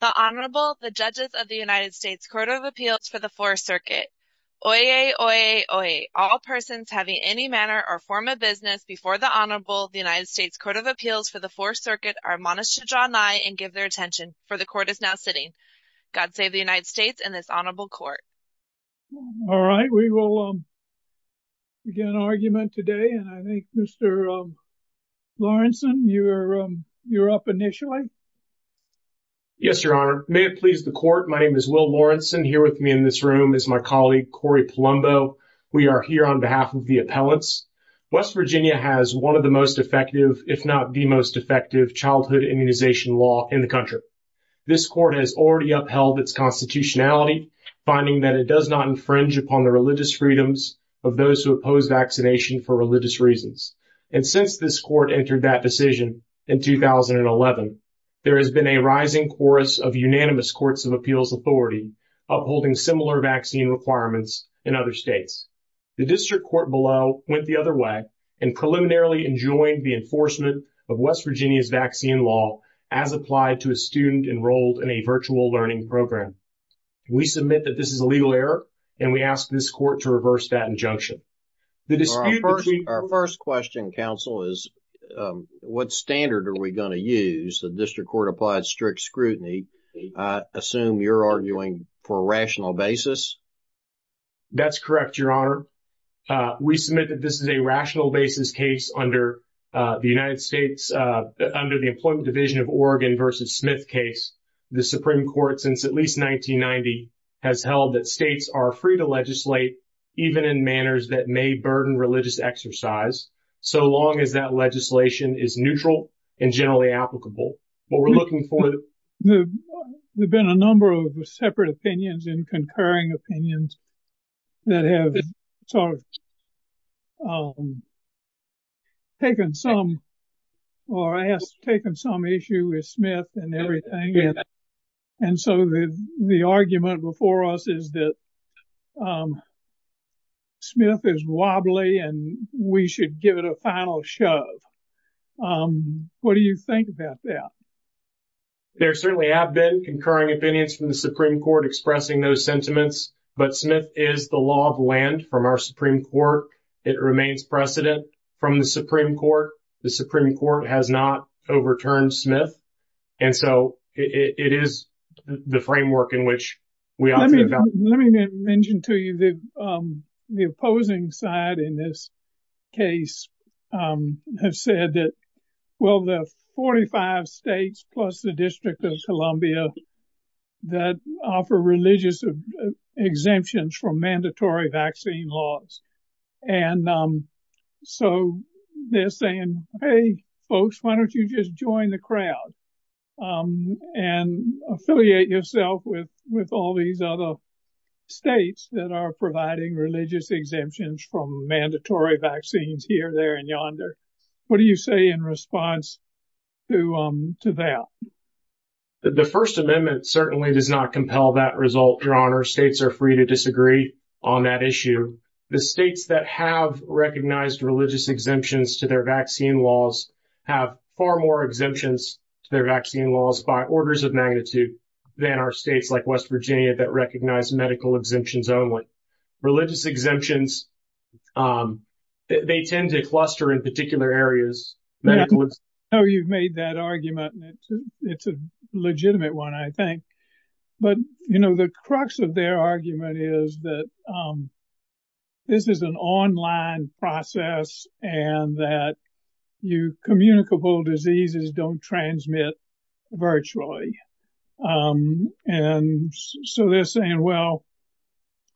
The Honorable, the Judges of the United States Court of Appeals for the Fourth Circuit. Oyez, oyez, oyez. All persons having any manner or form of business before the Honorable, the United States Court of Appeals for the Fourth Circuit, are admonished to draw nigh and give their attention, for the Court is now sitting. God save the United States and this Honorable Court. All right, we will begin an argument today and I think Mr. Lawrenson, you're up initially. Yes, Your Honor. May it please the Court, my name is Will Lawrenson. Here with me in this room is my colleague, Corey Palumbo. We are here on behalf of the appellants. West Virginia has one of the most effective, if not the most effective, childhood immunization law in the country. This court has already upheld its constitutionality, finding that it does not infringe upon the religious freedoms of those who oppose vaccination for religious reasons. And since this court entered that decision in 2011, there has been a rising chorus of unanimous courts of appeals authority upholding similar vaccine requirements in other states. The district court below went the other way and preliminarily enjoined the enforcement of West Virginia's vaccine law as applied to a student enrolled in a virtual learning program. We submit that this is a legal error and we ask this court to reverse that injunction. Our first question, counsel, is what standard are we going to use? The district court applied strict scrutiny. I assume you're arguing for a rational basis? That's correct, Your Honor. We submit that this is a rational basis case under the United States, under the Employment Division of Oregon v. Smith case. The Supreme Court, since at least 1990, has held that states are free to legislate even in manners that may burden religious exercise, so long as that legislation is neutral and generally applicable. There have been a number of separate opinions and concurring opinions that have taken some issue with Smith and everything. And so the argument before us is that Smith is wobbly and we should give it a final shove. What do you think about that? There certainly have been concurring opinions from the Supreme Court expressing those sentiments, but Smith is the law of land from our Supreme Court. It remains precedent from the Supreme Court. The Supreme Court has not overturned Smith. And so it is the framework in which we argue about it. Let me mention to you that the opposing side in this case has said that, well, there are 45 states plus the District of Columbia that offer religious exemptions from mandatory vaccine laws. And so they're saying, hey, folks, why don't you just join the crowd and affiliate yourself with all these other states that are providing religious exemptions from mandatory vaccines here, there and yonder? What do you say in response to that? The First Amendment certainly does not compel that result, Your Honor. States are free to disagree on that issue. The states that have recognized religious exemptions to their vaccine laws have far more exemptions to their vaccine laws by orders of magnitude than our states like West Virginia that recognize medical exemptions only. So religious exemptions, they tend to cluster in particular areas. Oh, you've made that argument. It's a legitimate one, I think. But, you know, the crux of their argument is that this is an online process and that you communicable diseases don't transmit virtually. And so they're saying, well,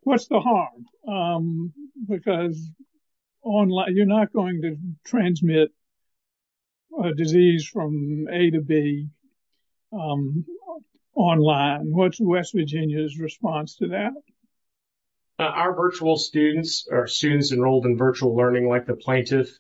what's the harm? Because you're not going to transmit a disease from A to B online. What's West Virginia's response to that? Our virtual students are students enrolled in virtual learning like the plaintiff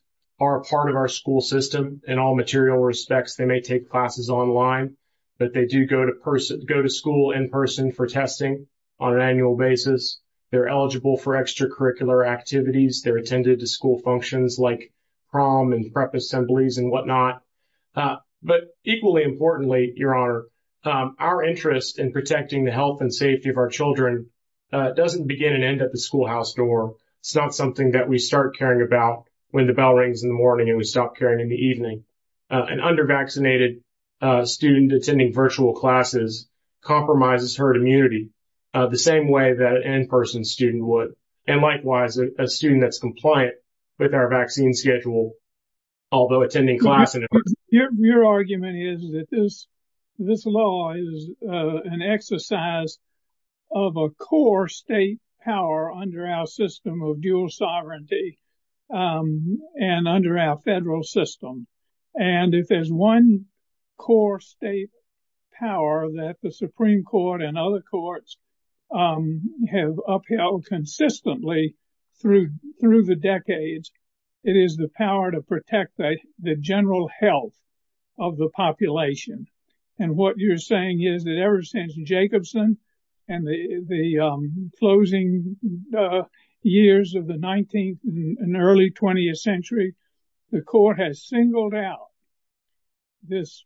are part of our school system in all material respects. They may take classes online, but they do go to go to school in person for testing on an annual basis. They're eligible for extracurricular activities. They're attended to school functions like prom and prep assemblies and whatnot. But equally importantly, your honor, our interest in protecting the health and safety of our children doesn't begin and end at the schoolhouse door. It's not something that we start caring about when the bell rings in the morning and we stop caring in the evening. An under vaccinated student attending virtual classes compromises herd immunity the same way that an in-person student would. And likewise, a student that's compliant with our vaccine schedule, although attending class. Your argument is that this this law is an exercise of a core state power under our system of dual sovereignty and under our federal system. And if there's one core state power that the Supreme Court and other courts have upheld consistently through through the decades, it is the power to protect the general health of the population. And what you're saying is that ever since Jacobson and the closing years of the 19th and early 20th century, the court has singled out. This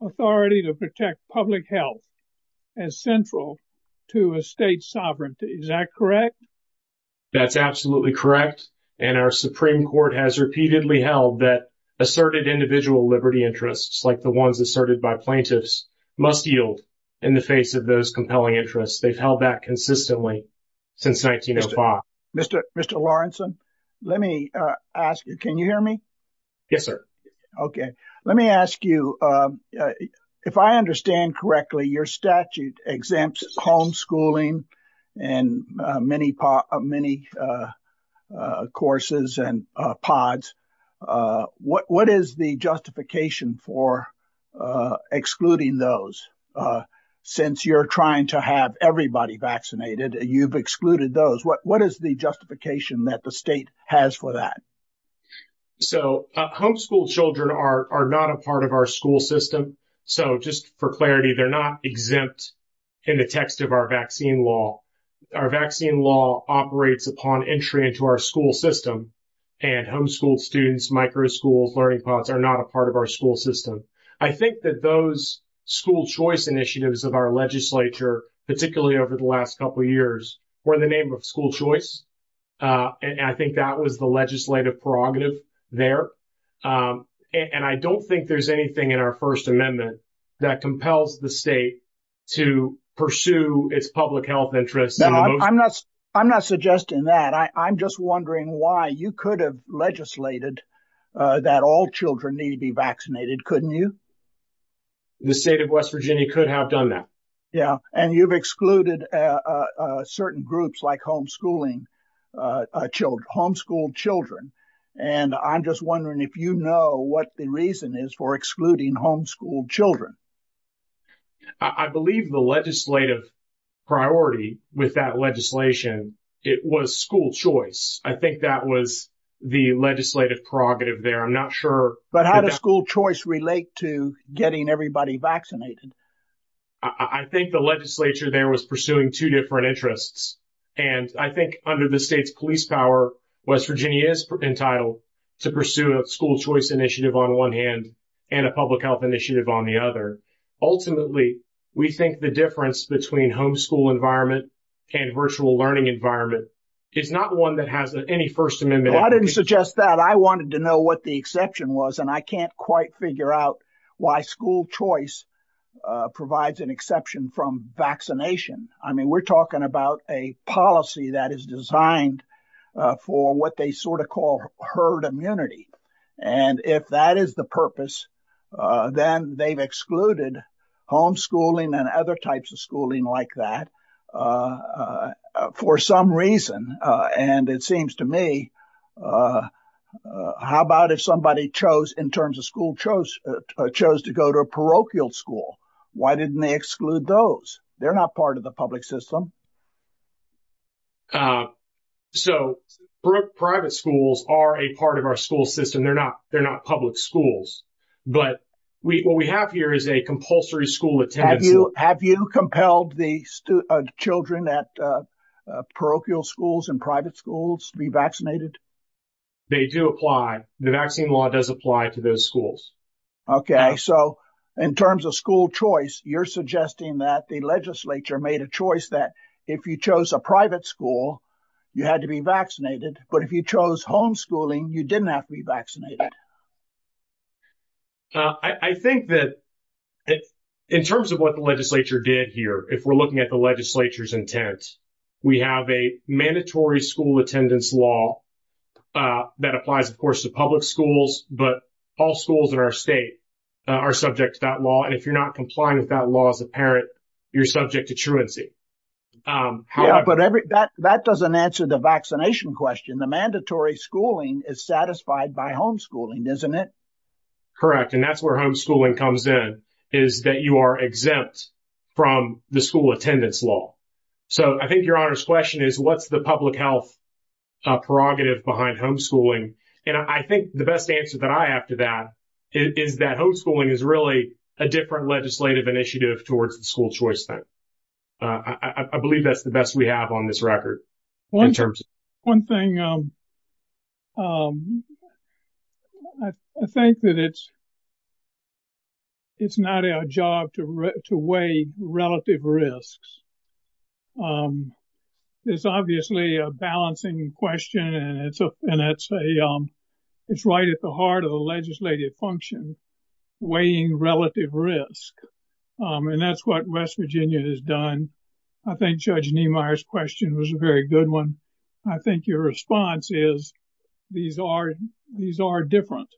authority to protect public health as central to a state sovereignty, is that correct? That's absolutely correct. And our Supreme Court has repeatedly held that asserted individual liberty interests like the ones asserted by plaintiffs must yield in the face of those compelling interests. They've held that consistently since 1905. Mr. Mr. Lawrenson, let me ask you, can you hear me? Yes, sir. OK, let me ask you, if I understand correctly, your statute exempts homeschooling and many, many courses and pods. What what is the justification for excluding those since you're trying to have everybody vaccinated? You've excluded those. What is the justification that the state has for that? So homeschooled children are not a part of our school system. So just for clarity, they're not exempt in the text of our vaccine law. Our vaccine law operates upon entry into our school system and homeschooled students, micro schools, learning pods are not a part of our school system. I think that those school choice initiatives of our legislature, particularly over the last couple of years, were in the name of school choice. And I think that was the legislative prerogative there. And I don't think there's anything in our First Amendment that compels the state to pursue its public health interests. No, I'm not. I'm not suggesting that. I'm just wondering why you could have legislated that all children need to be vaccinated. Couldn't you? The state of West Virginia could have done that. Yeah. And you've excluded certain groups like homeschooling children, homeschooled children. And I'm just wondering if you know what the reason is for excluding homeschooled children. I believe the legislative priority with that legislation, it was school choice. I think that was the legislative prerogative there. I'm not sure. But how does school choice relate to getting everybody vaccinated? I think the legislature there was pursuing two different interests. And I think under the state's police power, West Virginia is entitled to pursue a school choice initiative on one hand and a public health initiative on the other. Ultimately, we think the difference between homeschool environment and virtual learning environment is not one that has any First Amendment. I didn't suggest that. I wanted to know what the exception was. And I can't quite figure out why school choice provides an exception from vaccination. I mean, we're talking about a policy that is designed for what they sort of call herd immunity. And if that is the purpose, then they've excluded homeschooling and other types of schooling like that for some reason. And it seems to me, how about if somebody chose in terms of school chose chose to go to a parochial school? Why didn't they exclude those? They're not part of the public system. So private schools are a part of our school system. They're not they're not public schools. But what we have here is a compulsory school attendance. Have you compelled the children at parochial schools and private schools to be vaccinated? They do apply. The vaccine law does apply to those schools. OK, so in terms of school choice, you're suggesting that the legislature made a choice that if you chose a private school, you had to be vaccinated. But if you chose homeschooling, you didn't have to be vaccinated. I think that in terms of what the legislature did here, if we're looking at the legislature's intent, we have a mandatory school attendance law that applies, of course, to public schools. But all schools in our state are subject to that law. And if you're not complying with that law as a parent, you're subject to truancy. But that doesn't answer the vaccination question. The mandatory schooling is satisfied by homeschooling, isn't it? Correct. And that's where homeschooling comes in, is that you are exempt from the school attendance law. So I think your honor's question is, what's the public health prerogative behind homeschooling? And I think the best answer that I have to that is that homeschooling is really a different legislative initiative towards the school choice thing. I believe that's the best we have on this record. One thing, I think that it's not our job to weigh relative risks. It's obviously a balancing question and it's right at the heart of the legislative function, weighing relative risk. And that's what West Virginia has done. I think Judge Niemeyer's question was a very good one. I think your response is these are different.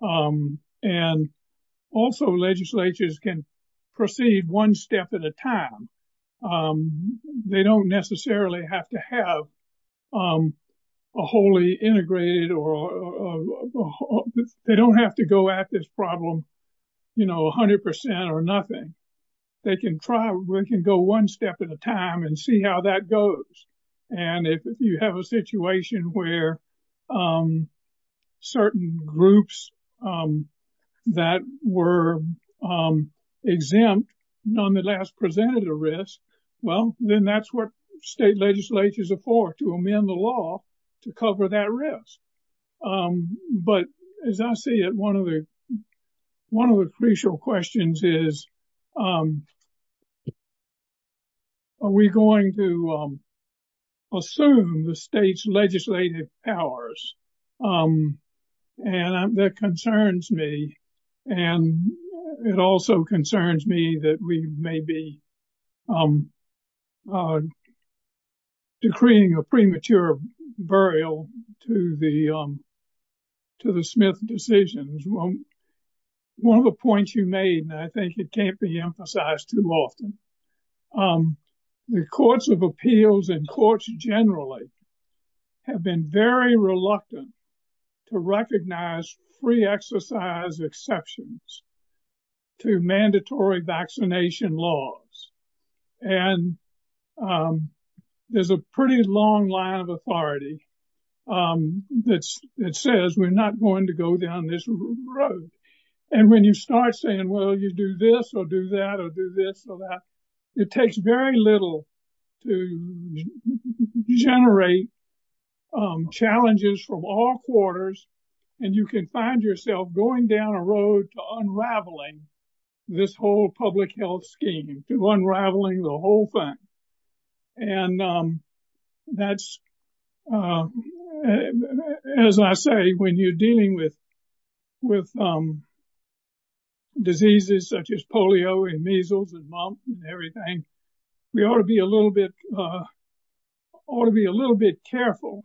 And also, legislatures can proceed one step at a time. They don't necessarily have to have a wholly integrated or they don't have to go at this problem, you know, 100% or nothing. They can try. We can go one step at a time and see how that goes. And if you have a situation where certain groups that were exempt nonetheless presented a risk, well, then that's what state legislatures are for, to amend the law to cover that risk. But as I see it, one of the crucial questions is, are we going to assume the state's legislative powers? And that concerns me. And it also concerns me that we may be decreeing a premature burial to the Smith decisions. One of the points you made, and I think it can't be emphasized too often, the courts of appeals and courts generally have been very reluctant to recognize free exercise exceptions to mandatory vaccination laws. And there's a pretty long line of authority that says we're not going to go down this road. And when you start saying, well, you do this or do that or do this or that, it takes very little to generate challenges from all quarters. And you can find yourself going down a road to unraveling this whole public health scheme, to unraveling the whole thing. And that's, as I say, when you're dealing with diseases such as polio and measles and mumps and everything, we ought to be a little bit careful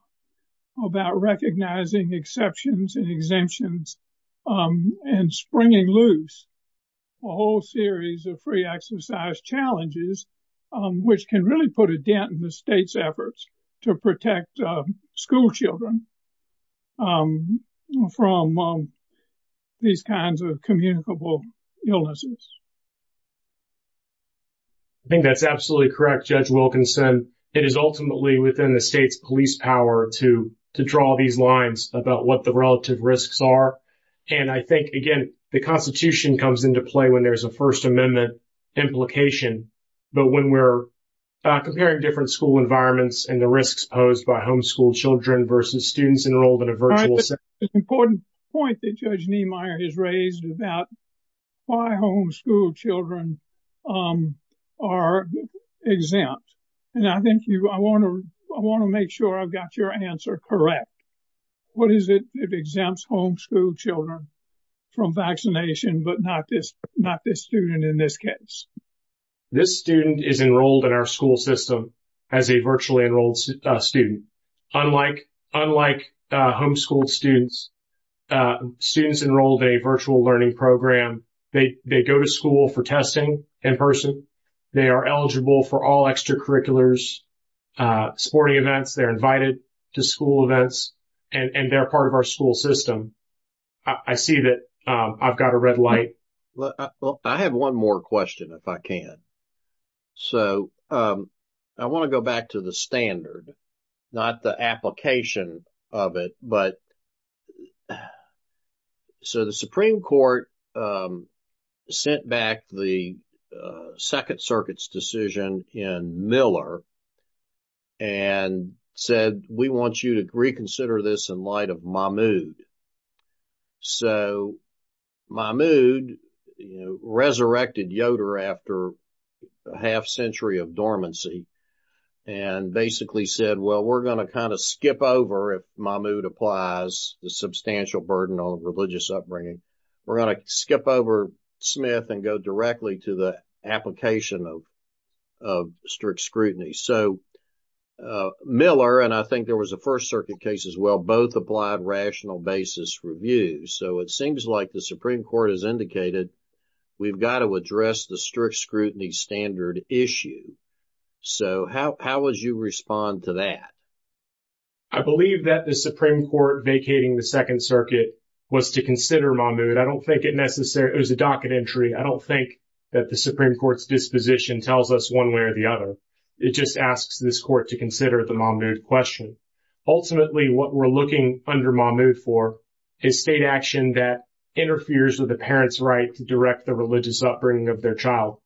about recognizing exceptions and exemptions and springing loose a whole series of free exercise challenges, which can really put a dent in the state's efforts to protect schoolchildren from these kinds of communicable illnesses. I think that's absolutely correct. Judge Wilkinson, it is ultimately within the state's police power to draw these lines about what the relative risks are. And I think, again, the Constitution comes into play when there's a First Amendment implication. But when we're comparing different school environments and the risks posed by homeschool children versus students enrolled in a virtual setting. An important point that Judge Niemeyer has raised about why homeschool children are exempt. And I think I want to make sure I've got your answer correct. What is it that exempts homeschool children from vaccination, but not this student in this case? This student is enrolled in our school system as a virtually enrolled student. Unlike homeschooled students, students enrolled in a virtual learning program, they go to school for testing in person. They are eligible for all extracurriculars, sporting events. They're invited to school events and they're part of our school system. I see that I've got a red light. Well, I have one more question, if I can. So I want to go back to the standard, not the application of it. But so the Supreme Court sent back the Second Circuit's decision in Miller. And said, we want you to reconsider this in light of Mahmoud. So Mahmoud resurrected Yoder after a half century of dormancy. And basically said, well, we're going to kind of skip over if Mahmoud applies the substantial burden on religious upbringing. We're going to skip over Smith and go directly to the application of strict scrutiny. So Miller, and I think there was a First Circuit case as well, both applied rational basis review. So it seems like the Supreme Court has indicated we've got to address the strict scrutiny standard issue. So how would you respond to that? I believe that the Supreme Court vacating the Second Circuit was to consider Mahmoud. I don't think it necessarily was a docket entry. I don't think that the Supreme Court's disposition tells us one way or the other. It just asks this court to consider the Mahmoud question. Ultimately, what we're looking under Mahmoud for is state action that interferes with the parent's right to direct the religious upbringing of their child.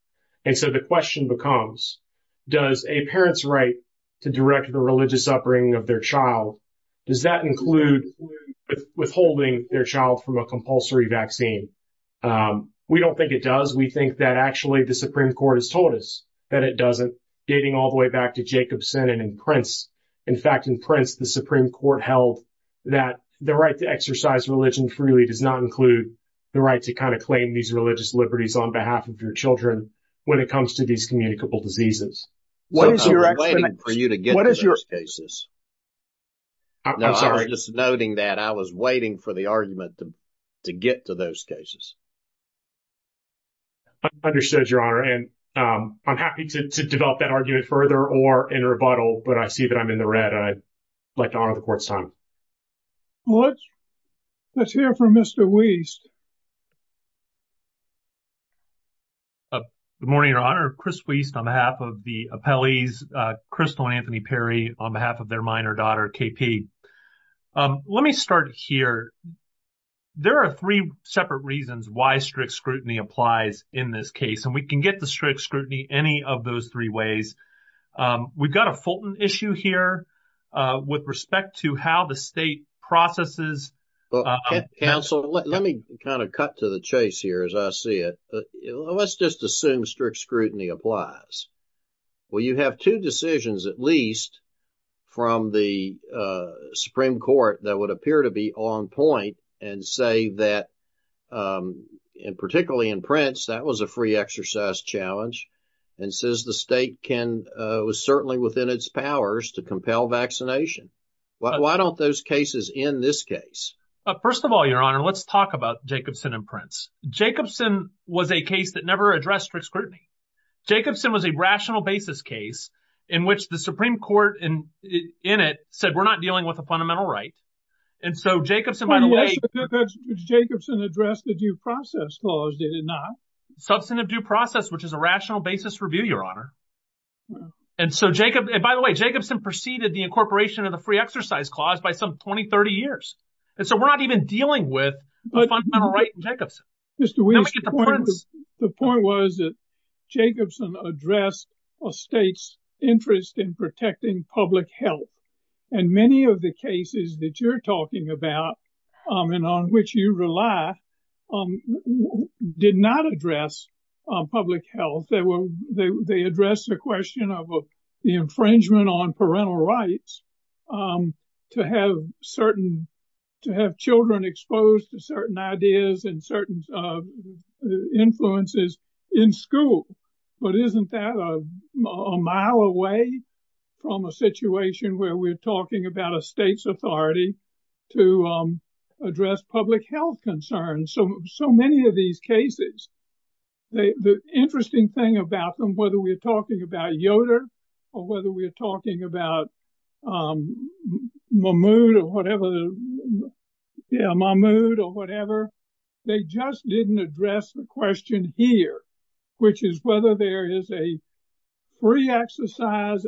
And so the question becomes, does a parent's right to direct the religious upbringing of their child, does that include withholding their child from a compulsory vaccine? We don't think it does. We think that actually the Supreme Court has told us that it doesn't, dating all the way back to Jacobson and Prince. In fact, in Prince, the Supreme Court held that the right to exercise religion freely does not include the right to kind of claim these religious liberties on behalf of your children when it comes to these communicable diseases. What is your explanation? I'm waiting for you to get to those cases. I'm sorry. You're just noting that I was waiting for the argument to get to those cases. Understood, Your Honor. And I'm happy to develop that argument further or in a rebuttal. But I see that I'm in the red. I'd like to honor the court's time. Let's hear from Mr. Wiest. Good morning, Your Honor. Chris Wiest on behalf of the appellees. Crystal and Anthony Perry on behalf of their minor daughter, KP. Let me start here. There are three separate reasons why strict scrutiny applies in this case, and we can get to strict scrutiny any of those three ways. We've got a Fulton issue here with respect to how the state processes. Well, counsel, let me kind of cut to the chase here as I see it. Let's just assume strict scrutiny applies. Well, you have two decisions, at least from the Supreme Court that would appear to be on point and say that in particularly in Prince, that was a free exercise challenge. And says the state can was certainly within its powers to compel vaccination. Why don't those cases in this case? First of all, Your Honor, let's talk about Jacobson and Prince. Jacobson was a case that never addressed strict scrutiny. Jacobson was a rational basis case in which the Supreme Court in it said we're not dealing with a fundamental right. And so Jacobson, by the way, Jacobson addressed the due process clause, did it not? Substantive due process, which is a rational basis review, Your Honor. And so Jacob, by the way, Jacobson preceded the incorporation of the free exercise clause by some 20, 30 years. And so we're not even dealing with Jacobson. The point was that Jacobson addressed a state's interest in protecting public health. And many of the cases that you're talking about and on which you rely did not address public health. They addressed the question of the infringement on parental rights to have certain to have children exposed to certain ideas and certain influences in school. But isn't that a mile away from a situation where we're talking about a state's authority to address public health concerns? So many of these cases, the interesting thing about them, whether we're talking about Yoder or whether we're talking about Mahmoud or whatever, yeah, Mahmoud or whatever, they just didn't address the question here, which is whether there is a free exercise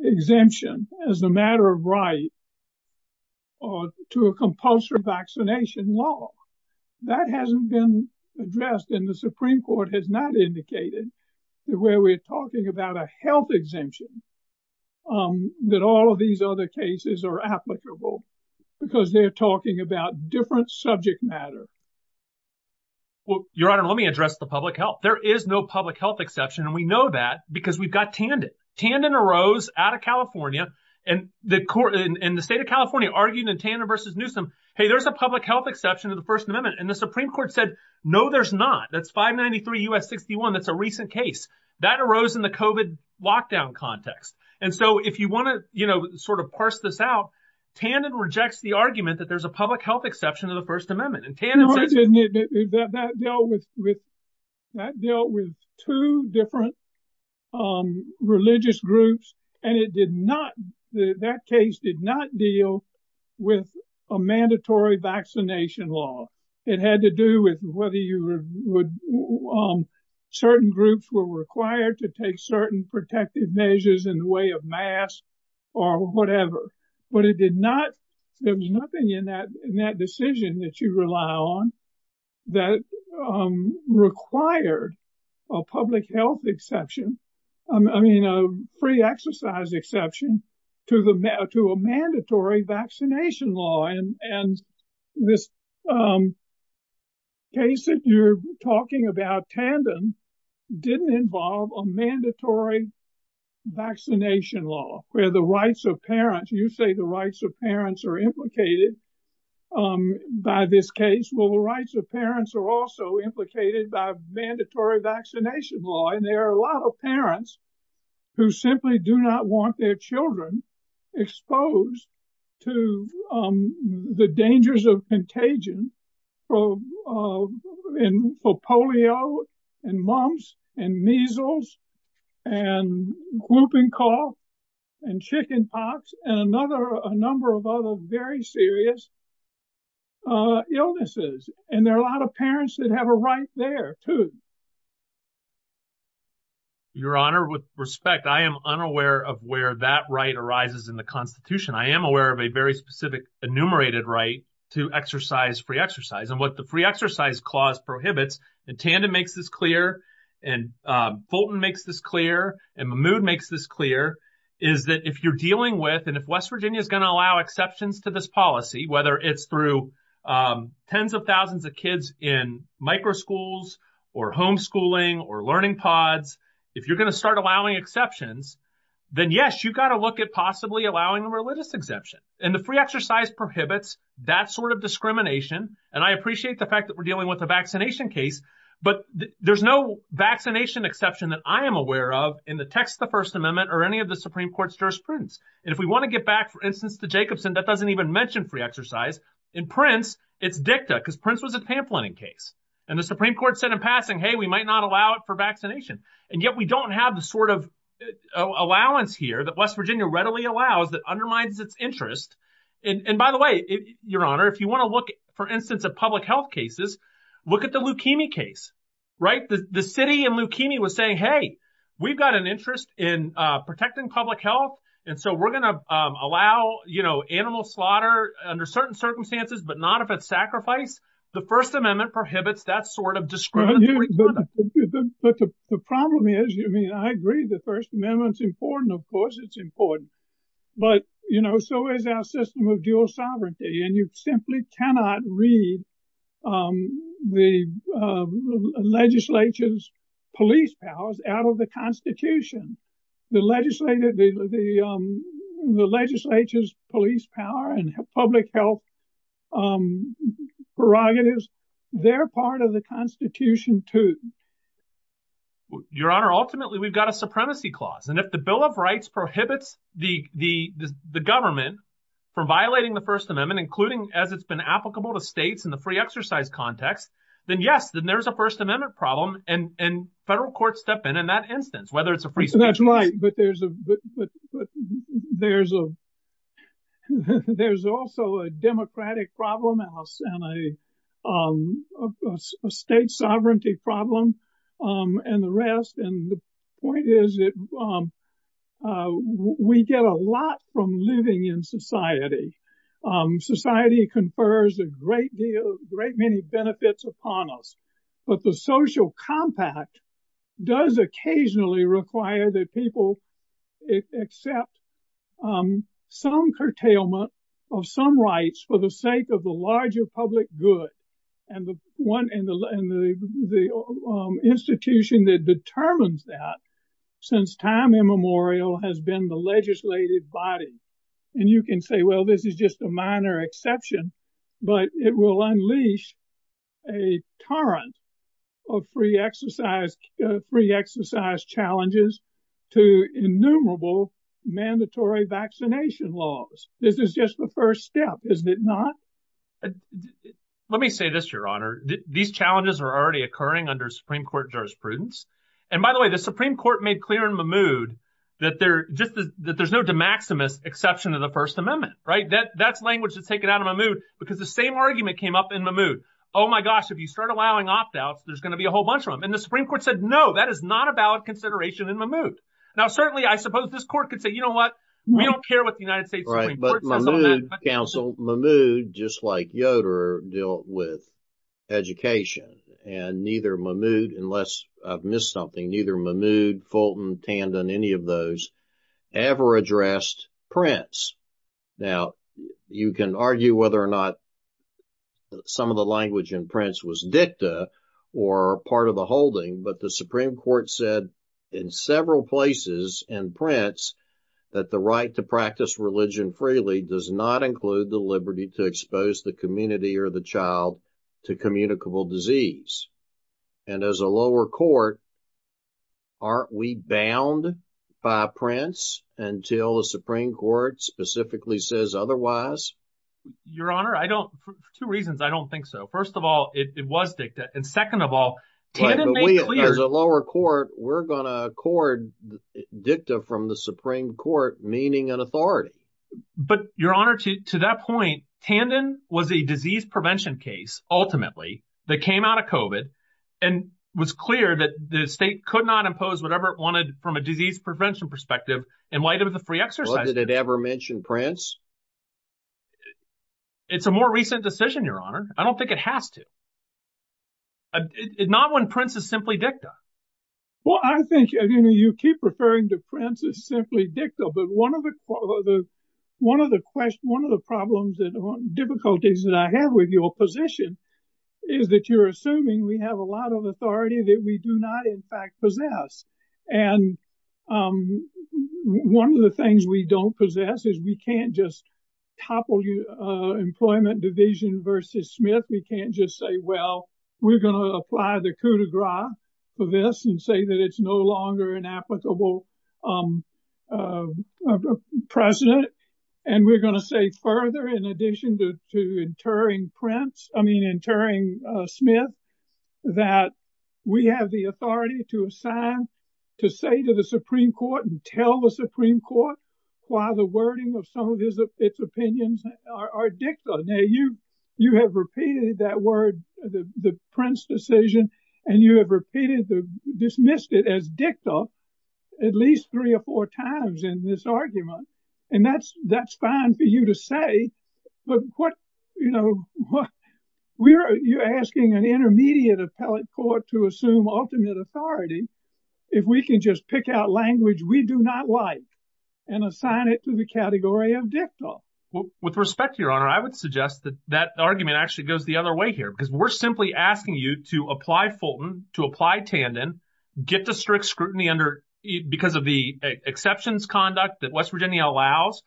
exemption as a matter of right to a compulsory vaccination law. That hasn't been addressed in the Supreme Court has not indicated where we're talking about a health exemption that all of these other cases are applicable because they're talking about different subject matter. Well, Your Honor, let me address the public health. There is no public health exception, and we know that because we've got Tandon. Tandon arose out of California and the state of California argued in Tandon versus Newsom. Hey, there's a public health exception to the First Amendment. And the Supreme Court said, no, there's not. That's 593 U.S. 61. That's a recent case that arose in the COVID lockdown context. And so if you want to sort of parse this out, Tandon rejects the argument that there's a public health exception to the First Amendment. That dealt with two different religious groups. And it did not that case did not deal with a mandatory vaccination law. It had to do with whether you would certain groups were required to take certain protective measures in the way of mass or whatever. But it did not. There was nothing in that in that decision that you rely on that required a public health exception. I mean, a free exercise exception to the to a mandatory vaccination law. And this case that you're talking about, Tandon, didn't involve a mandatory vaccination law where the rights of parents, you say the rights of parents are implicated by this case. Well, the rights of parents are also implicated by mandatory vaccination law, and there are a lot of parents who simply do not want their children exposed to the dangers of contagion. So for polio and mumps and measles and whooping cough and chickenpox and another a number of other very serious illnesses. And there are a lot of parents that have a right there to. Your Honor, with respect, I am unaware of where that right arises in the Constitution. I am aware of a very specific enumerated right to exercise free exercise and what the free exercise clause prohibits. And Tandon makes this clear and Fulton makes this clear and Mahmoud makes this clear is that if you're dealing with and if West Virginia is going to allow exceptions to this policy, whether it's through tens of thousands of kids in micro schools or homeschooling or learning pods, if you're going to start allowing exceptions, then, yes, you've got to look at possibly allowing a religious exemption and the free exercise prohibits that sort of discrimination. And I appreciate the fact that we're dealing with a vaccination case, but there's no vaccination exception that I am aware of in the text, the First Amendment or any of the Supreme Court's jurisprudence. And if we want to get back, for instance, to Jacobson, that doesn't even mention free exercise in Prince. It's dicta because Prince was a pamphlet in case and the Supreme Court said in passing, hey, we might not allow it for vaccination. And yet we don't have the sort of allowance here that West Virginia readily allows that undermines its interest. And by the way, your honor, if you want to look, for instance, at public health cases, look at the leukemia case. Right. The city and leukemia was saying, hey, we've got an interest in protecting public health. And so we're going to allow, you know, animal slaughter under certain circumstances, but not if it's sacrifice. The First Amendment prohibits that sort of discrimination. But the problem is, I mean, I agree the First Amendment's important. Of course, it's important. But, you know, so is our system of dual sovereignty. And you simply cannot read the legislature's police powers out of the Constitution. The legislature, the legislature's police power and public health prerogatives, they're part of the Constitution, too. Your honor, ultimately, we've got a supremacy clause. And if the Bill of Rights prohibits the government from violating the First Amendment, including as it's been applicable to states in the free exercise context, then yes, then there is a First Amendment problem. And federal courts step in in that instance, whether it's a free exercise. That's right. But there's also a democratic problem and a state sovereignty problem and the rest. And the point is that we get a lot from living in society. Society confers a great deal, great many benefits upon us. But the social compact does occasionally require that people accept some curtailment of some rights for the sake of the larger public good. And the institution that determines that since time immemorial has been the legislative body. And you can say, well, this is just a minor exception, but it will unleash a torrent of free exercise, free exercise challenges to innumerable mandatory vaccination laws. This is just the first step, is it not? Let me say this, your honor. These challenges are already occurring under Supreme Court jurisprudence. And by the way, the Supreme Court made clear in Mahmoud that they're just that there's no de maximis exception to the First Amendment. Right. That's language that's taken out of my mood because the same argument came up in Mahmoud. Oh, my gosh. If you start allowing opt outs, there's going to be a whole bunch of them. And the Supreme Court said, no, that is not a valid consideration in Mahmoud. Now, certainly, I suppose this court could say, you know what, we don't care what the United States Supreme Court says on that. But Mahmoud, counsel, Mahmoud, just like Yoder, dealt with education and neither Mahmoud, unless I've missed something, neither Mahmoud, Fulton, Tandon, any of those ever addressed Prince. Now, you can argue whether or not some of the language in Prince was dicta or part of the holding. But the Supreme Court said in several places in Prince that the right to practice religion freely does not include the liberty to expose the community or the child to communicable disease. And as a lower court, aren't we bound by Prince until the Supreme Court specifically says otherwise? Your Honor, I don't for two reasons. I don't think so. First of all, it was dicta. And second of all, Tandon made clear. As a lower court, we're going to accord dicta from the Supreme Court, meaning an authority. But Your Honor, to that point, Tandon was a disease prevention case, ultimately, that came out of COVID and was clear that the state could not impose whatever it wanted from a disease prevention perspective in light of the free exercise. Well, did it ever mention Prince? It's a more recent decision, Your Honor. I don't think it has to. Not when Prince is simply dicta. Well, I think you keep referring to Prince as simply dicta. But one of the problems and difficulties that I have with your position is that you're assuming we have a lot of authority that we do not, in fact, possess. And one of the things we don't possess is we can't just topple the Employment Division versus Smith. We can't just say, well, we're going to apply the coup de grace for this and say that it's no longer an applicable precedent. And we're going to say further, in addition to interring Prince, I mean, interring Smith, that we have the authority to assign, to say to the Supreme Court and tell the Supreme Court why the wording of some of its opinions are dicta. Now, you have repeated that word, the Prince decision, and you have repeated, dismissed it as dicta at least three or four times in this argument. And that's fine for you to say. But what, you know, you're asking an intermediate appellate court to assume ultimate authority if we can just pick out language we do not like and assign it to the category of dicta. Well, with respect, Your Honor, I would suggest that that argument actually goes the other way here, because we're simply asking you to apply Fulton, to apply Tandon, get the strict scrutiny because of the exceptions conduct that West Virginia allows,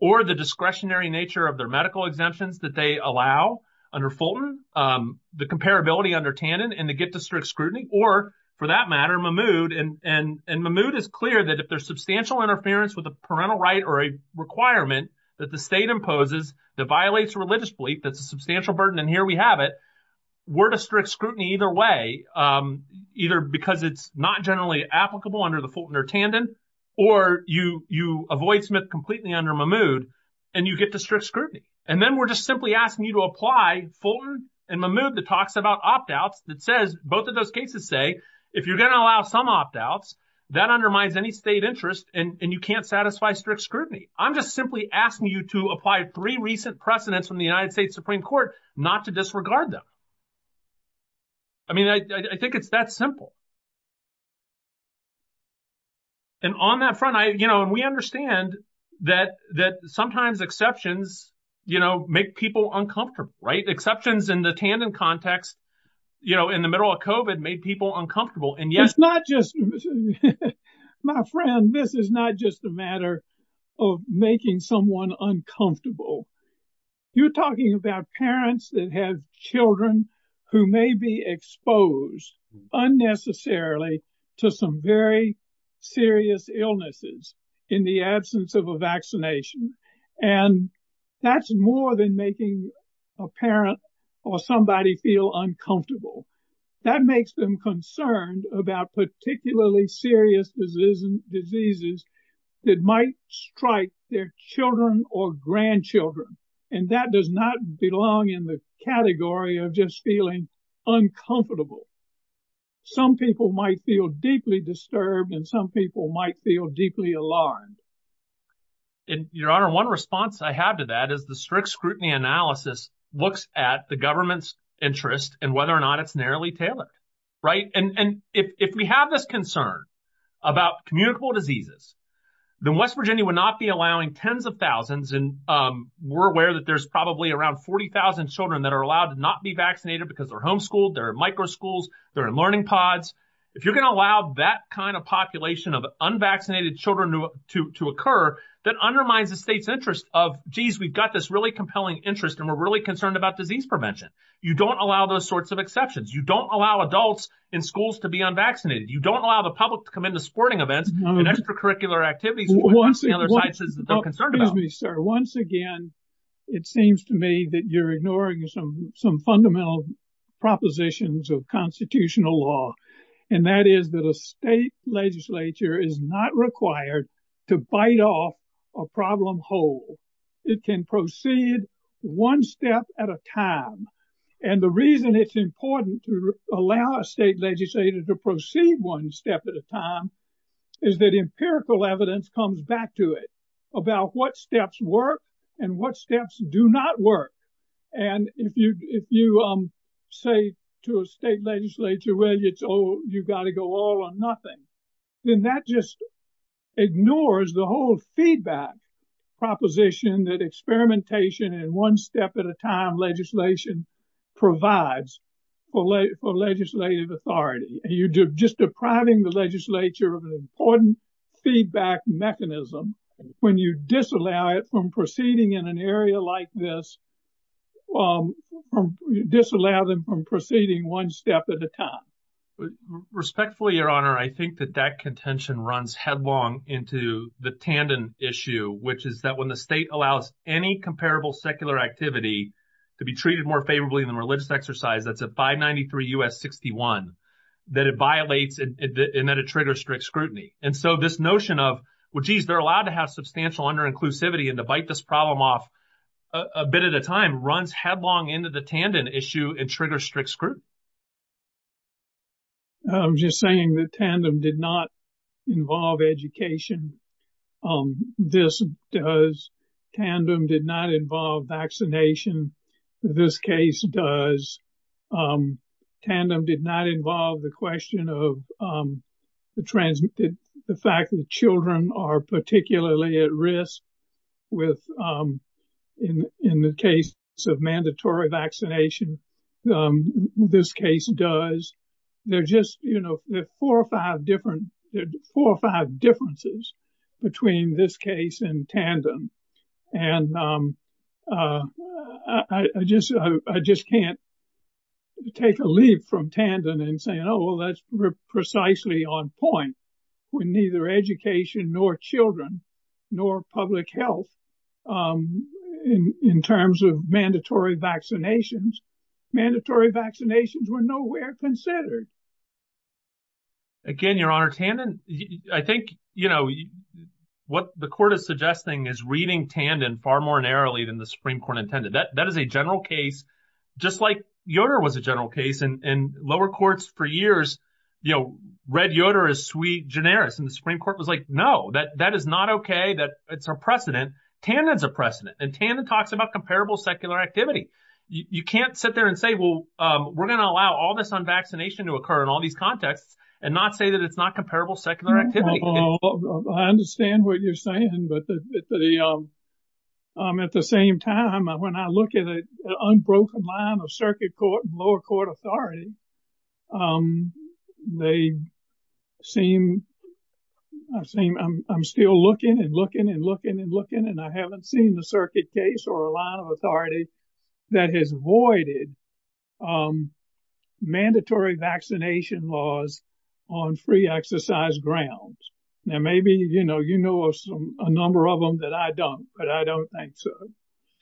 or the discretionary nature of their medical exemptions that they allow under Fulton, the comparability under Tandon, and to get the strict scrutiny, or for that matter, Mahmoud. And Mahmoud is clear that if there's substantial interference with a parental right or a requirement that the state imposes that violates religious belief, that's a substantial burden, and here we have it, we're to strict scrutiny either way, either because it's not generally applicable under the Fulton or Tandon, or you avoid Smith completely under Mahmoud and you get the strict scrutiny. And then we're just simply asking you to apply Fulton and Mahmoud that talks about opt-outs that says, both of those cases say, if you're going to allow some opt-outs, that undermines any state interest and you can't satisfy strict scrutiny. I'm just simply asking you to apply three recent precedents from the United States Supreme Court not to disregard them. I mean, I think it's that simple. And on that front, you know, and we understand that sometimes exceptions, you know, make people uncomfortable, right? Exceptions in the Tandon context, you know, in the middle of COVID made people uncomfortable. It's not just, my friend, this is not just a matter of making someone uncomfortable. You're talking about parents that have children who may be exposed unnecessarily to some very serious illnesses in the absence of a vaccination. And that's more than making a parent or somebody feel uncomfortable. That makes them concerned about particularly serious diseases that might strike their children or grandchildren. And that does not belong in the category of just feeling uncomfortable. Some people might feel deeply disturbed and some people might feel deeply alarmed. Your Honor, one response I have to that is the strict scrutiny analysis looks at the government's interest and whether or not it's narrowly tailored, right? And if we have this concern about communicable diseases, then West Virginia would not be allowing tens of thousands. And we're aware that there's probably around 40,000 children that are allowed to not be vaccinated because they're homeschooled, they're in micro schools, they're in learning pods. If you're going to allow that kind of population of unvaccinated children to occur, that undermines the state's interest of, geez, we've got this really compelling interest and we're really concerned about disease prevention. You don't allow those sorts of exceptions. You don't allow adults in schools to be unvaccinated. You don't allow the public to come into sporting events and extracurricular activities. Excuse me, sir. Once again, it seems to me that you're ignoring some fundamental propositions of constitutional law. And that is that a state legislature is not required to bite off a problem whole. It can proceed one step at a time. And the reason it's important to allow a state legislator to proceed one step at a time is that empirical evidence comes back to it about what steps work and what steps do not work. And if you say to a state legislature, well, you've got to go all or nothing, then that just ignores the whole feedback proposition that experimentation and one step at a time legislation provides for legislative authority. You're just depriving the legislature of an important feedback mechanism when you disallow it from proceeding in an area like this, disallow them from proceeding one step at a time. Respectfully, Your Honor, I think that that contention runs headlong into the Tandon issue, which is that when the state allows any comparable secular activity to be treated more favorably than religious exercise, that's a 593 U.S. 61, that it violates and that it triggers strict scrutiny. And so this notion of, well, geez, they're allowed to have substantial under inclusivity and to bite this problem off a bit at a time runs headlong into the Tandon issue and triggers strict scrutiny. I'm just saying that Tandon did not involve education. This does. Tandon did not involve vaccination. This case does. Tandon did not involve the question of the fact that children are particularly at risk with in the case of mandatory vaccination. This case does. They're just, you know, four or five different four or five differences between this case and Tandon. And I just I just can't take a leap from Tandon and say, oh, well, that's precisely on point when neither education nor children nor public health in terms of mandatory vaccinations. Mandatory vaccinations were nowhere considered. We're going to allow all this on vaccination to occur in all these contexts and not say that it's not comparable secular activity. I understand what you're saying, but at the same time, when I look at an unbroken line of circuit court and lower court authority, they seem I'm still looking and looking and looking and looking. And I haven't seen the circuit case or a line of authority that has voided mandatory vaccination laws on free exercise grounds. Now, maybe, you know, you know, a number of them that I don't. But I don't think so.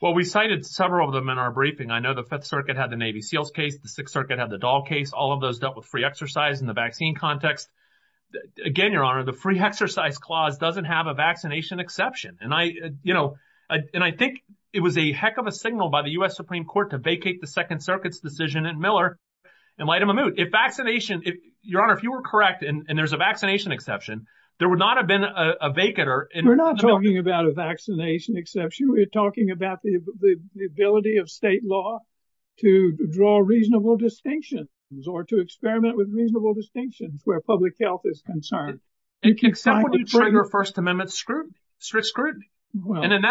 Well, we cited several of them in our briefing. I know the Fifth Circuit had the Navy Seals case. The Sixth Circuit had the doll case. All of those dealt with free exercise in the vaccine context. Again, Your Honor, the free exercise clause doesn't have a vaccination exception. And I, you know, and I think it was a heck of a signal by the U.S. Supreme Court to vacate the Second Circuit's decision in Miller and lighten the mood. If vaccination, Your Honor, if you were correct and there's a vaccination exception, there would not have been a vacater. We're not talking about a vaccination exception. We're talking about the ability of state law to draw reasonable distinctions or to experiment with reasonable distinctions where public health is concerned. And in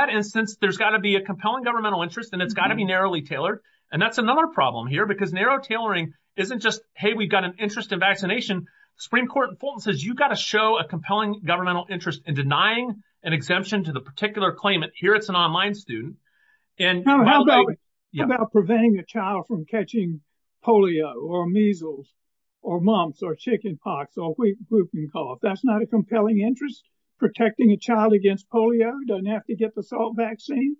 that instance, there's got to be a compelling governmental interest and it's got to be narrowly tailored. And that's another problem here because narrow tailoring isn't just, hey, we've got an interest in vaccination. Supreme Court in Fulton says you've got to show a compelling governmental interest in denying an exemption to the particular claimant. Here it's an online student. And how about preventing a child from catching polio or measles or mumps or chicken pox or whooping cough? That's not a compelling interest. Protecting a child against polio doesn't have to get the salt vaccine.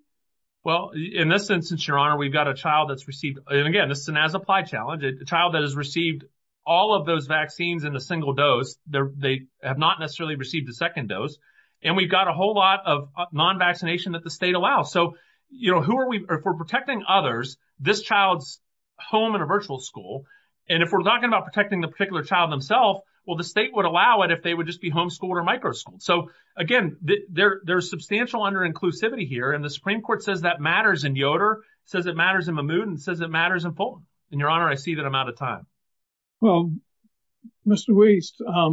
Well, in this instance, Your Honor, we've got a child that's received and again, this is an as-applied challenge, a child that has received all of those vaccines in a single dose. They have not necessarily received a second dose. And we've got a whole lot of non-vaccination that the state allows. So, you know, who are we? If we're protecting others, this child's home in a virtual school. And if we're talking about protecting the particular child themselves, well, the state would allow it if they would just be homeschooled or microschooled. So, again, there's substantial under-inclusivity here. And the Supreme Court says that matters in Yoder, says it matters in Mahmoud, and says it matters in Fulton. And, Your Honor, I see that I'm out of time. Well, Mr. Weiss, I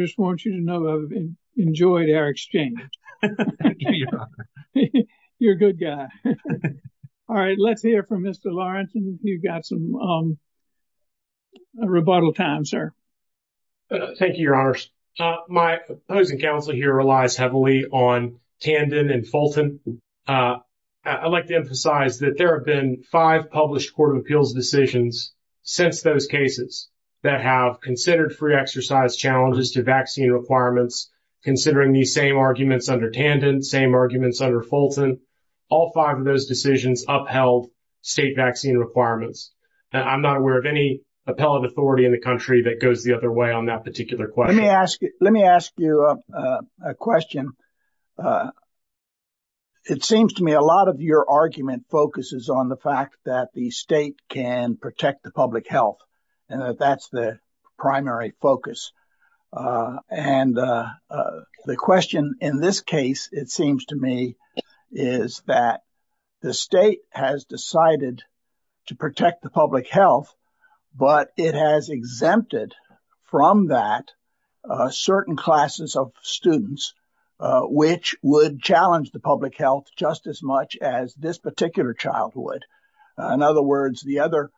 just want you to know I've enjoyed our exchange. Thank you, Your Honor. You're a good guy. All right. Let's hear from Mr. Lawrence. You've got some rebuttal time, sir. Thank you, Your Honor. My opposing counsel here relies heavily on Tandon and Fulton. I'd like to emphasize that there have been five published Court of Appeals decisions since those cases that have considered free exercise challenges to vaccine requirements, considering these same arguments under Tandon, same arguments under Fulton. All five of those decisions upheld state vaccine requirements. I'm not aware of any appellate authority in the country that goes the other way on that particular question. Let me ask you a question. It seems to me a lot of your argument focuses on the fact that the state can protect the public health. And that's the primary focus. And the question in this case, it seems to me, is that the state has decided to protect the public health, but it has exempted from that certain classes of students, which would challenge the public health just as much as this particular childhood. In other words, the other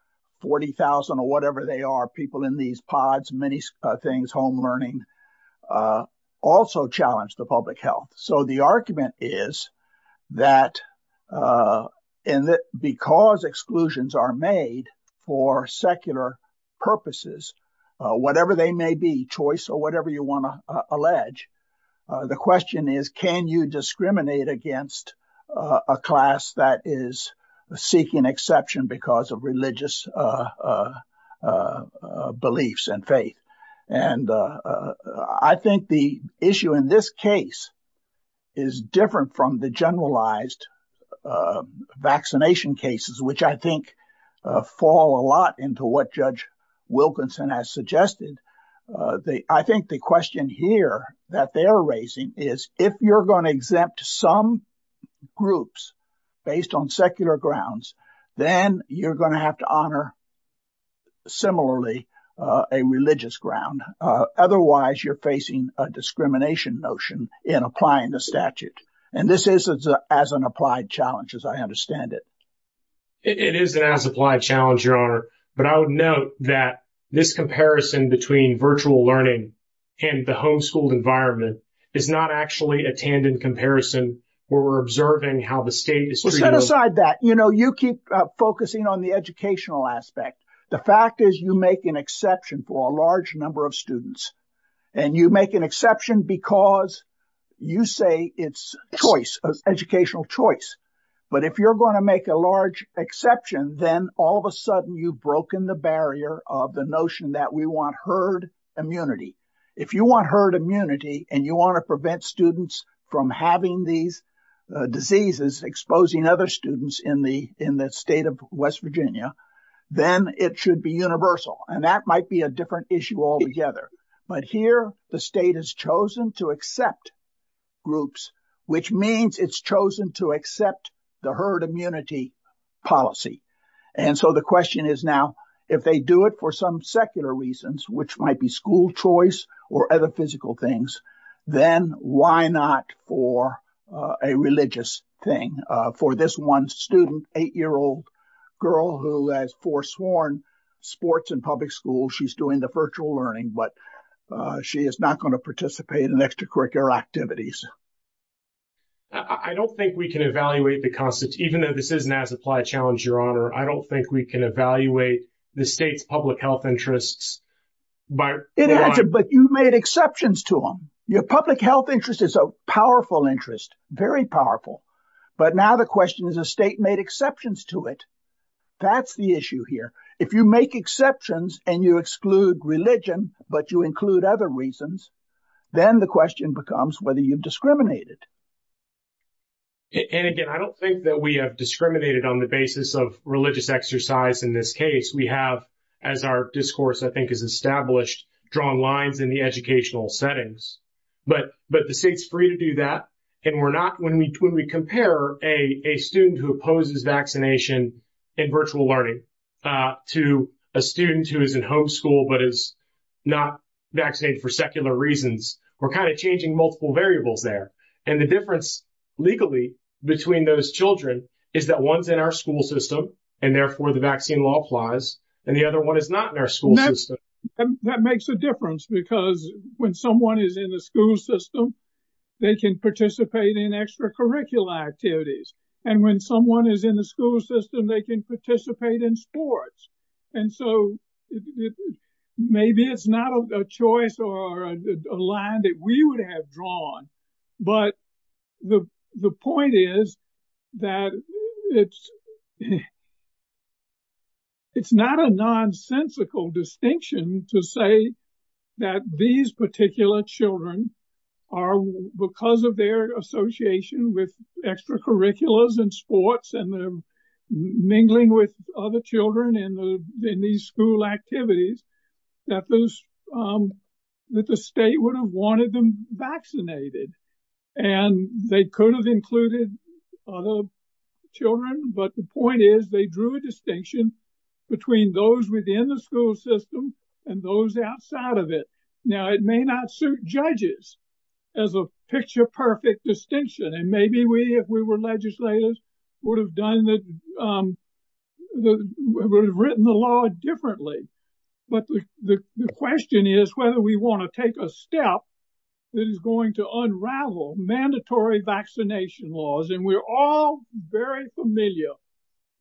40,000 or whatever they are, people in these pods, many things, home learning, also challenge the public health. So the argument is that because exclusions are made for secular purposes, whatever they may be, choice or whatever you want to allege, the question is, can you discriminate against a class that is seeking exception because of religious beliefs and faith? And I think the issue in this case is different from the generalized vaccination cases, which I think fall a lot into what Judge Wilkinson has suggested. I think the question here that they are raising is if you're going to exempt some groups based on secular grounds, then you're going to have to honor similarly a religious ground. Otherwise, you're facing a discrimination notion in applying the statute. And this is as an applied challenge, as I understand it. It is an as applied challenge, your honor. But I would note that this comparison between virtual learning and the homeschooled environment is not actually a tandem comparison where we're observing how the state is. You know, you keep focusing on the educational aspect. The fact is, you make an exception for a large number of students and you make an exception because you say it's choice, educational choice. But if you're going to make a large exception, then all of a sudden you've broken the barrier of the notion that we want herd immunity. If you want herd immunity and you want to prevent students from having these diseases, exposing other students in the state of West Virginia, then it should be universal. And that might be a different issue altogether. But here the state has chosen to accept groups, which means it's chosen to accept the herd immunity policy. And so the question is now, if they do it for some secular reasons, which might be school choice or other physical things, then why not for a religious thing for this one student, eight year old girl who has foresworn sports and public school? She's doing the virtual learning, but she is not going to participate in extracurricular activities. I don't think we can evaluate the concept, even though this is an as applied challenge, Your Honor. I don't think we can evaluate the state's public health interests. But you made exceptions to them. Your public health interest is a powerful interest, very powerful. But now the question is a state made exceptions to it. That's the issue here. If you make exceptions and you exclude religion, but you include other reasons, then the question becomes whether you've discriminated. And again, I don't think that we have discriminated on the basis of religious exercise. In this case, we have, as our discourse, I think, is established, drawn lines in the educational settings. But but the state's free to do that. And we're not when we when we compare a student who opposes vaccination and virtual learning to a student who is in homeschool, but is not vaccinated for secular reasons. We're kind of changing multiple variables there. And the difference legally between those children is that one's in our school system and therefore the vaccine law applies. And the other one is not in our school system. That makes a difference because when someone is in the school system, they can participate in extracurricular activities. And when someone is in the school system, they can participate in sports. And so maybe it's not a choice or a line that we would have drawn. But the point is that it's it's not a nonsensical distinction to say that these particular children are because of their association with extracurriculars and sports and mingling with other children in the school activities that the state would have wanted them vaccinated. And they could have included other children. But the point is, they drew a distinction between those within the school system and those outside of it. Now, it may not suit judges as a picture-perfect distinction. And maybe we, if we were legislators, would have written the law differently. But the question is whether we want to take a step that is going to unravel mandatory vaccination laws. And we're all very familiar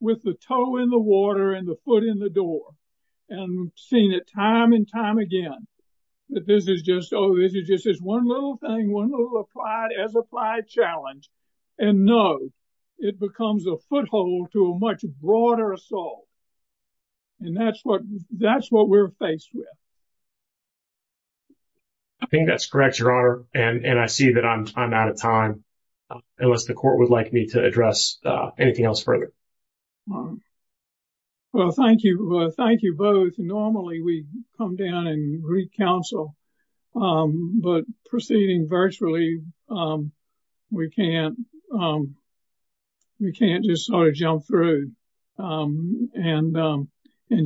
with the toe in the water and the foot in the door and seen it time and time again. But this is just oh, this is just this one little thing, one little applied as applied challenge. And no, it becomes a foothold to a much broader assault. And that's what that's what we're faced with. I think that's correct, Your Honor. And I see that I'm out of time unless the court would like me to address anything else further. Well, thank you. Thank you both. Normally, we come down and re-counsel. But proceeding virtually, we can't just sort of jump through and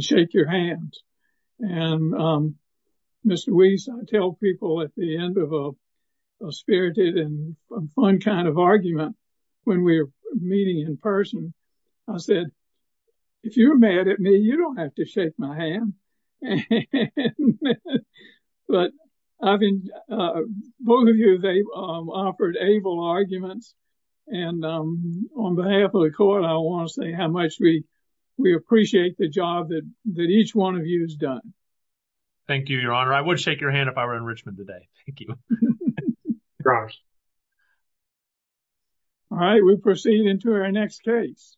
shake your hands. And Mr. Weiss, I tell people at the end of a spirited and fun kind of argument when we're meeting in person, I said, if you're mad at me, you don't have to shake my hand. But I mean, both of you, they offered able arguments. And on behalf of the court, I want to say how much we we appreciate the job that that each one of you has done. Thank you, Your Honor. I would shake your hand if I were in Richmond today. Thank you. All right, we proceed into our next case.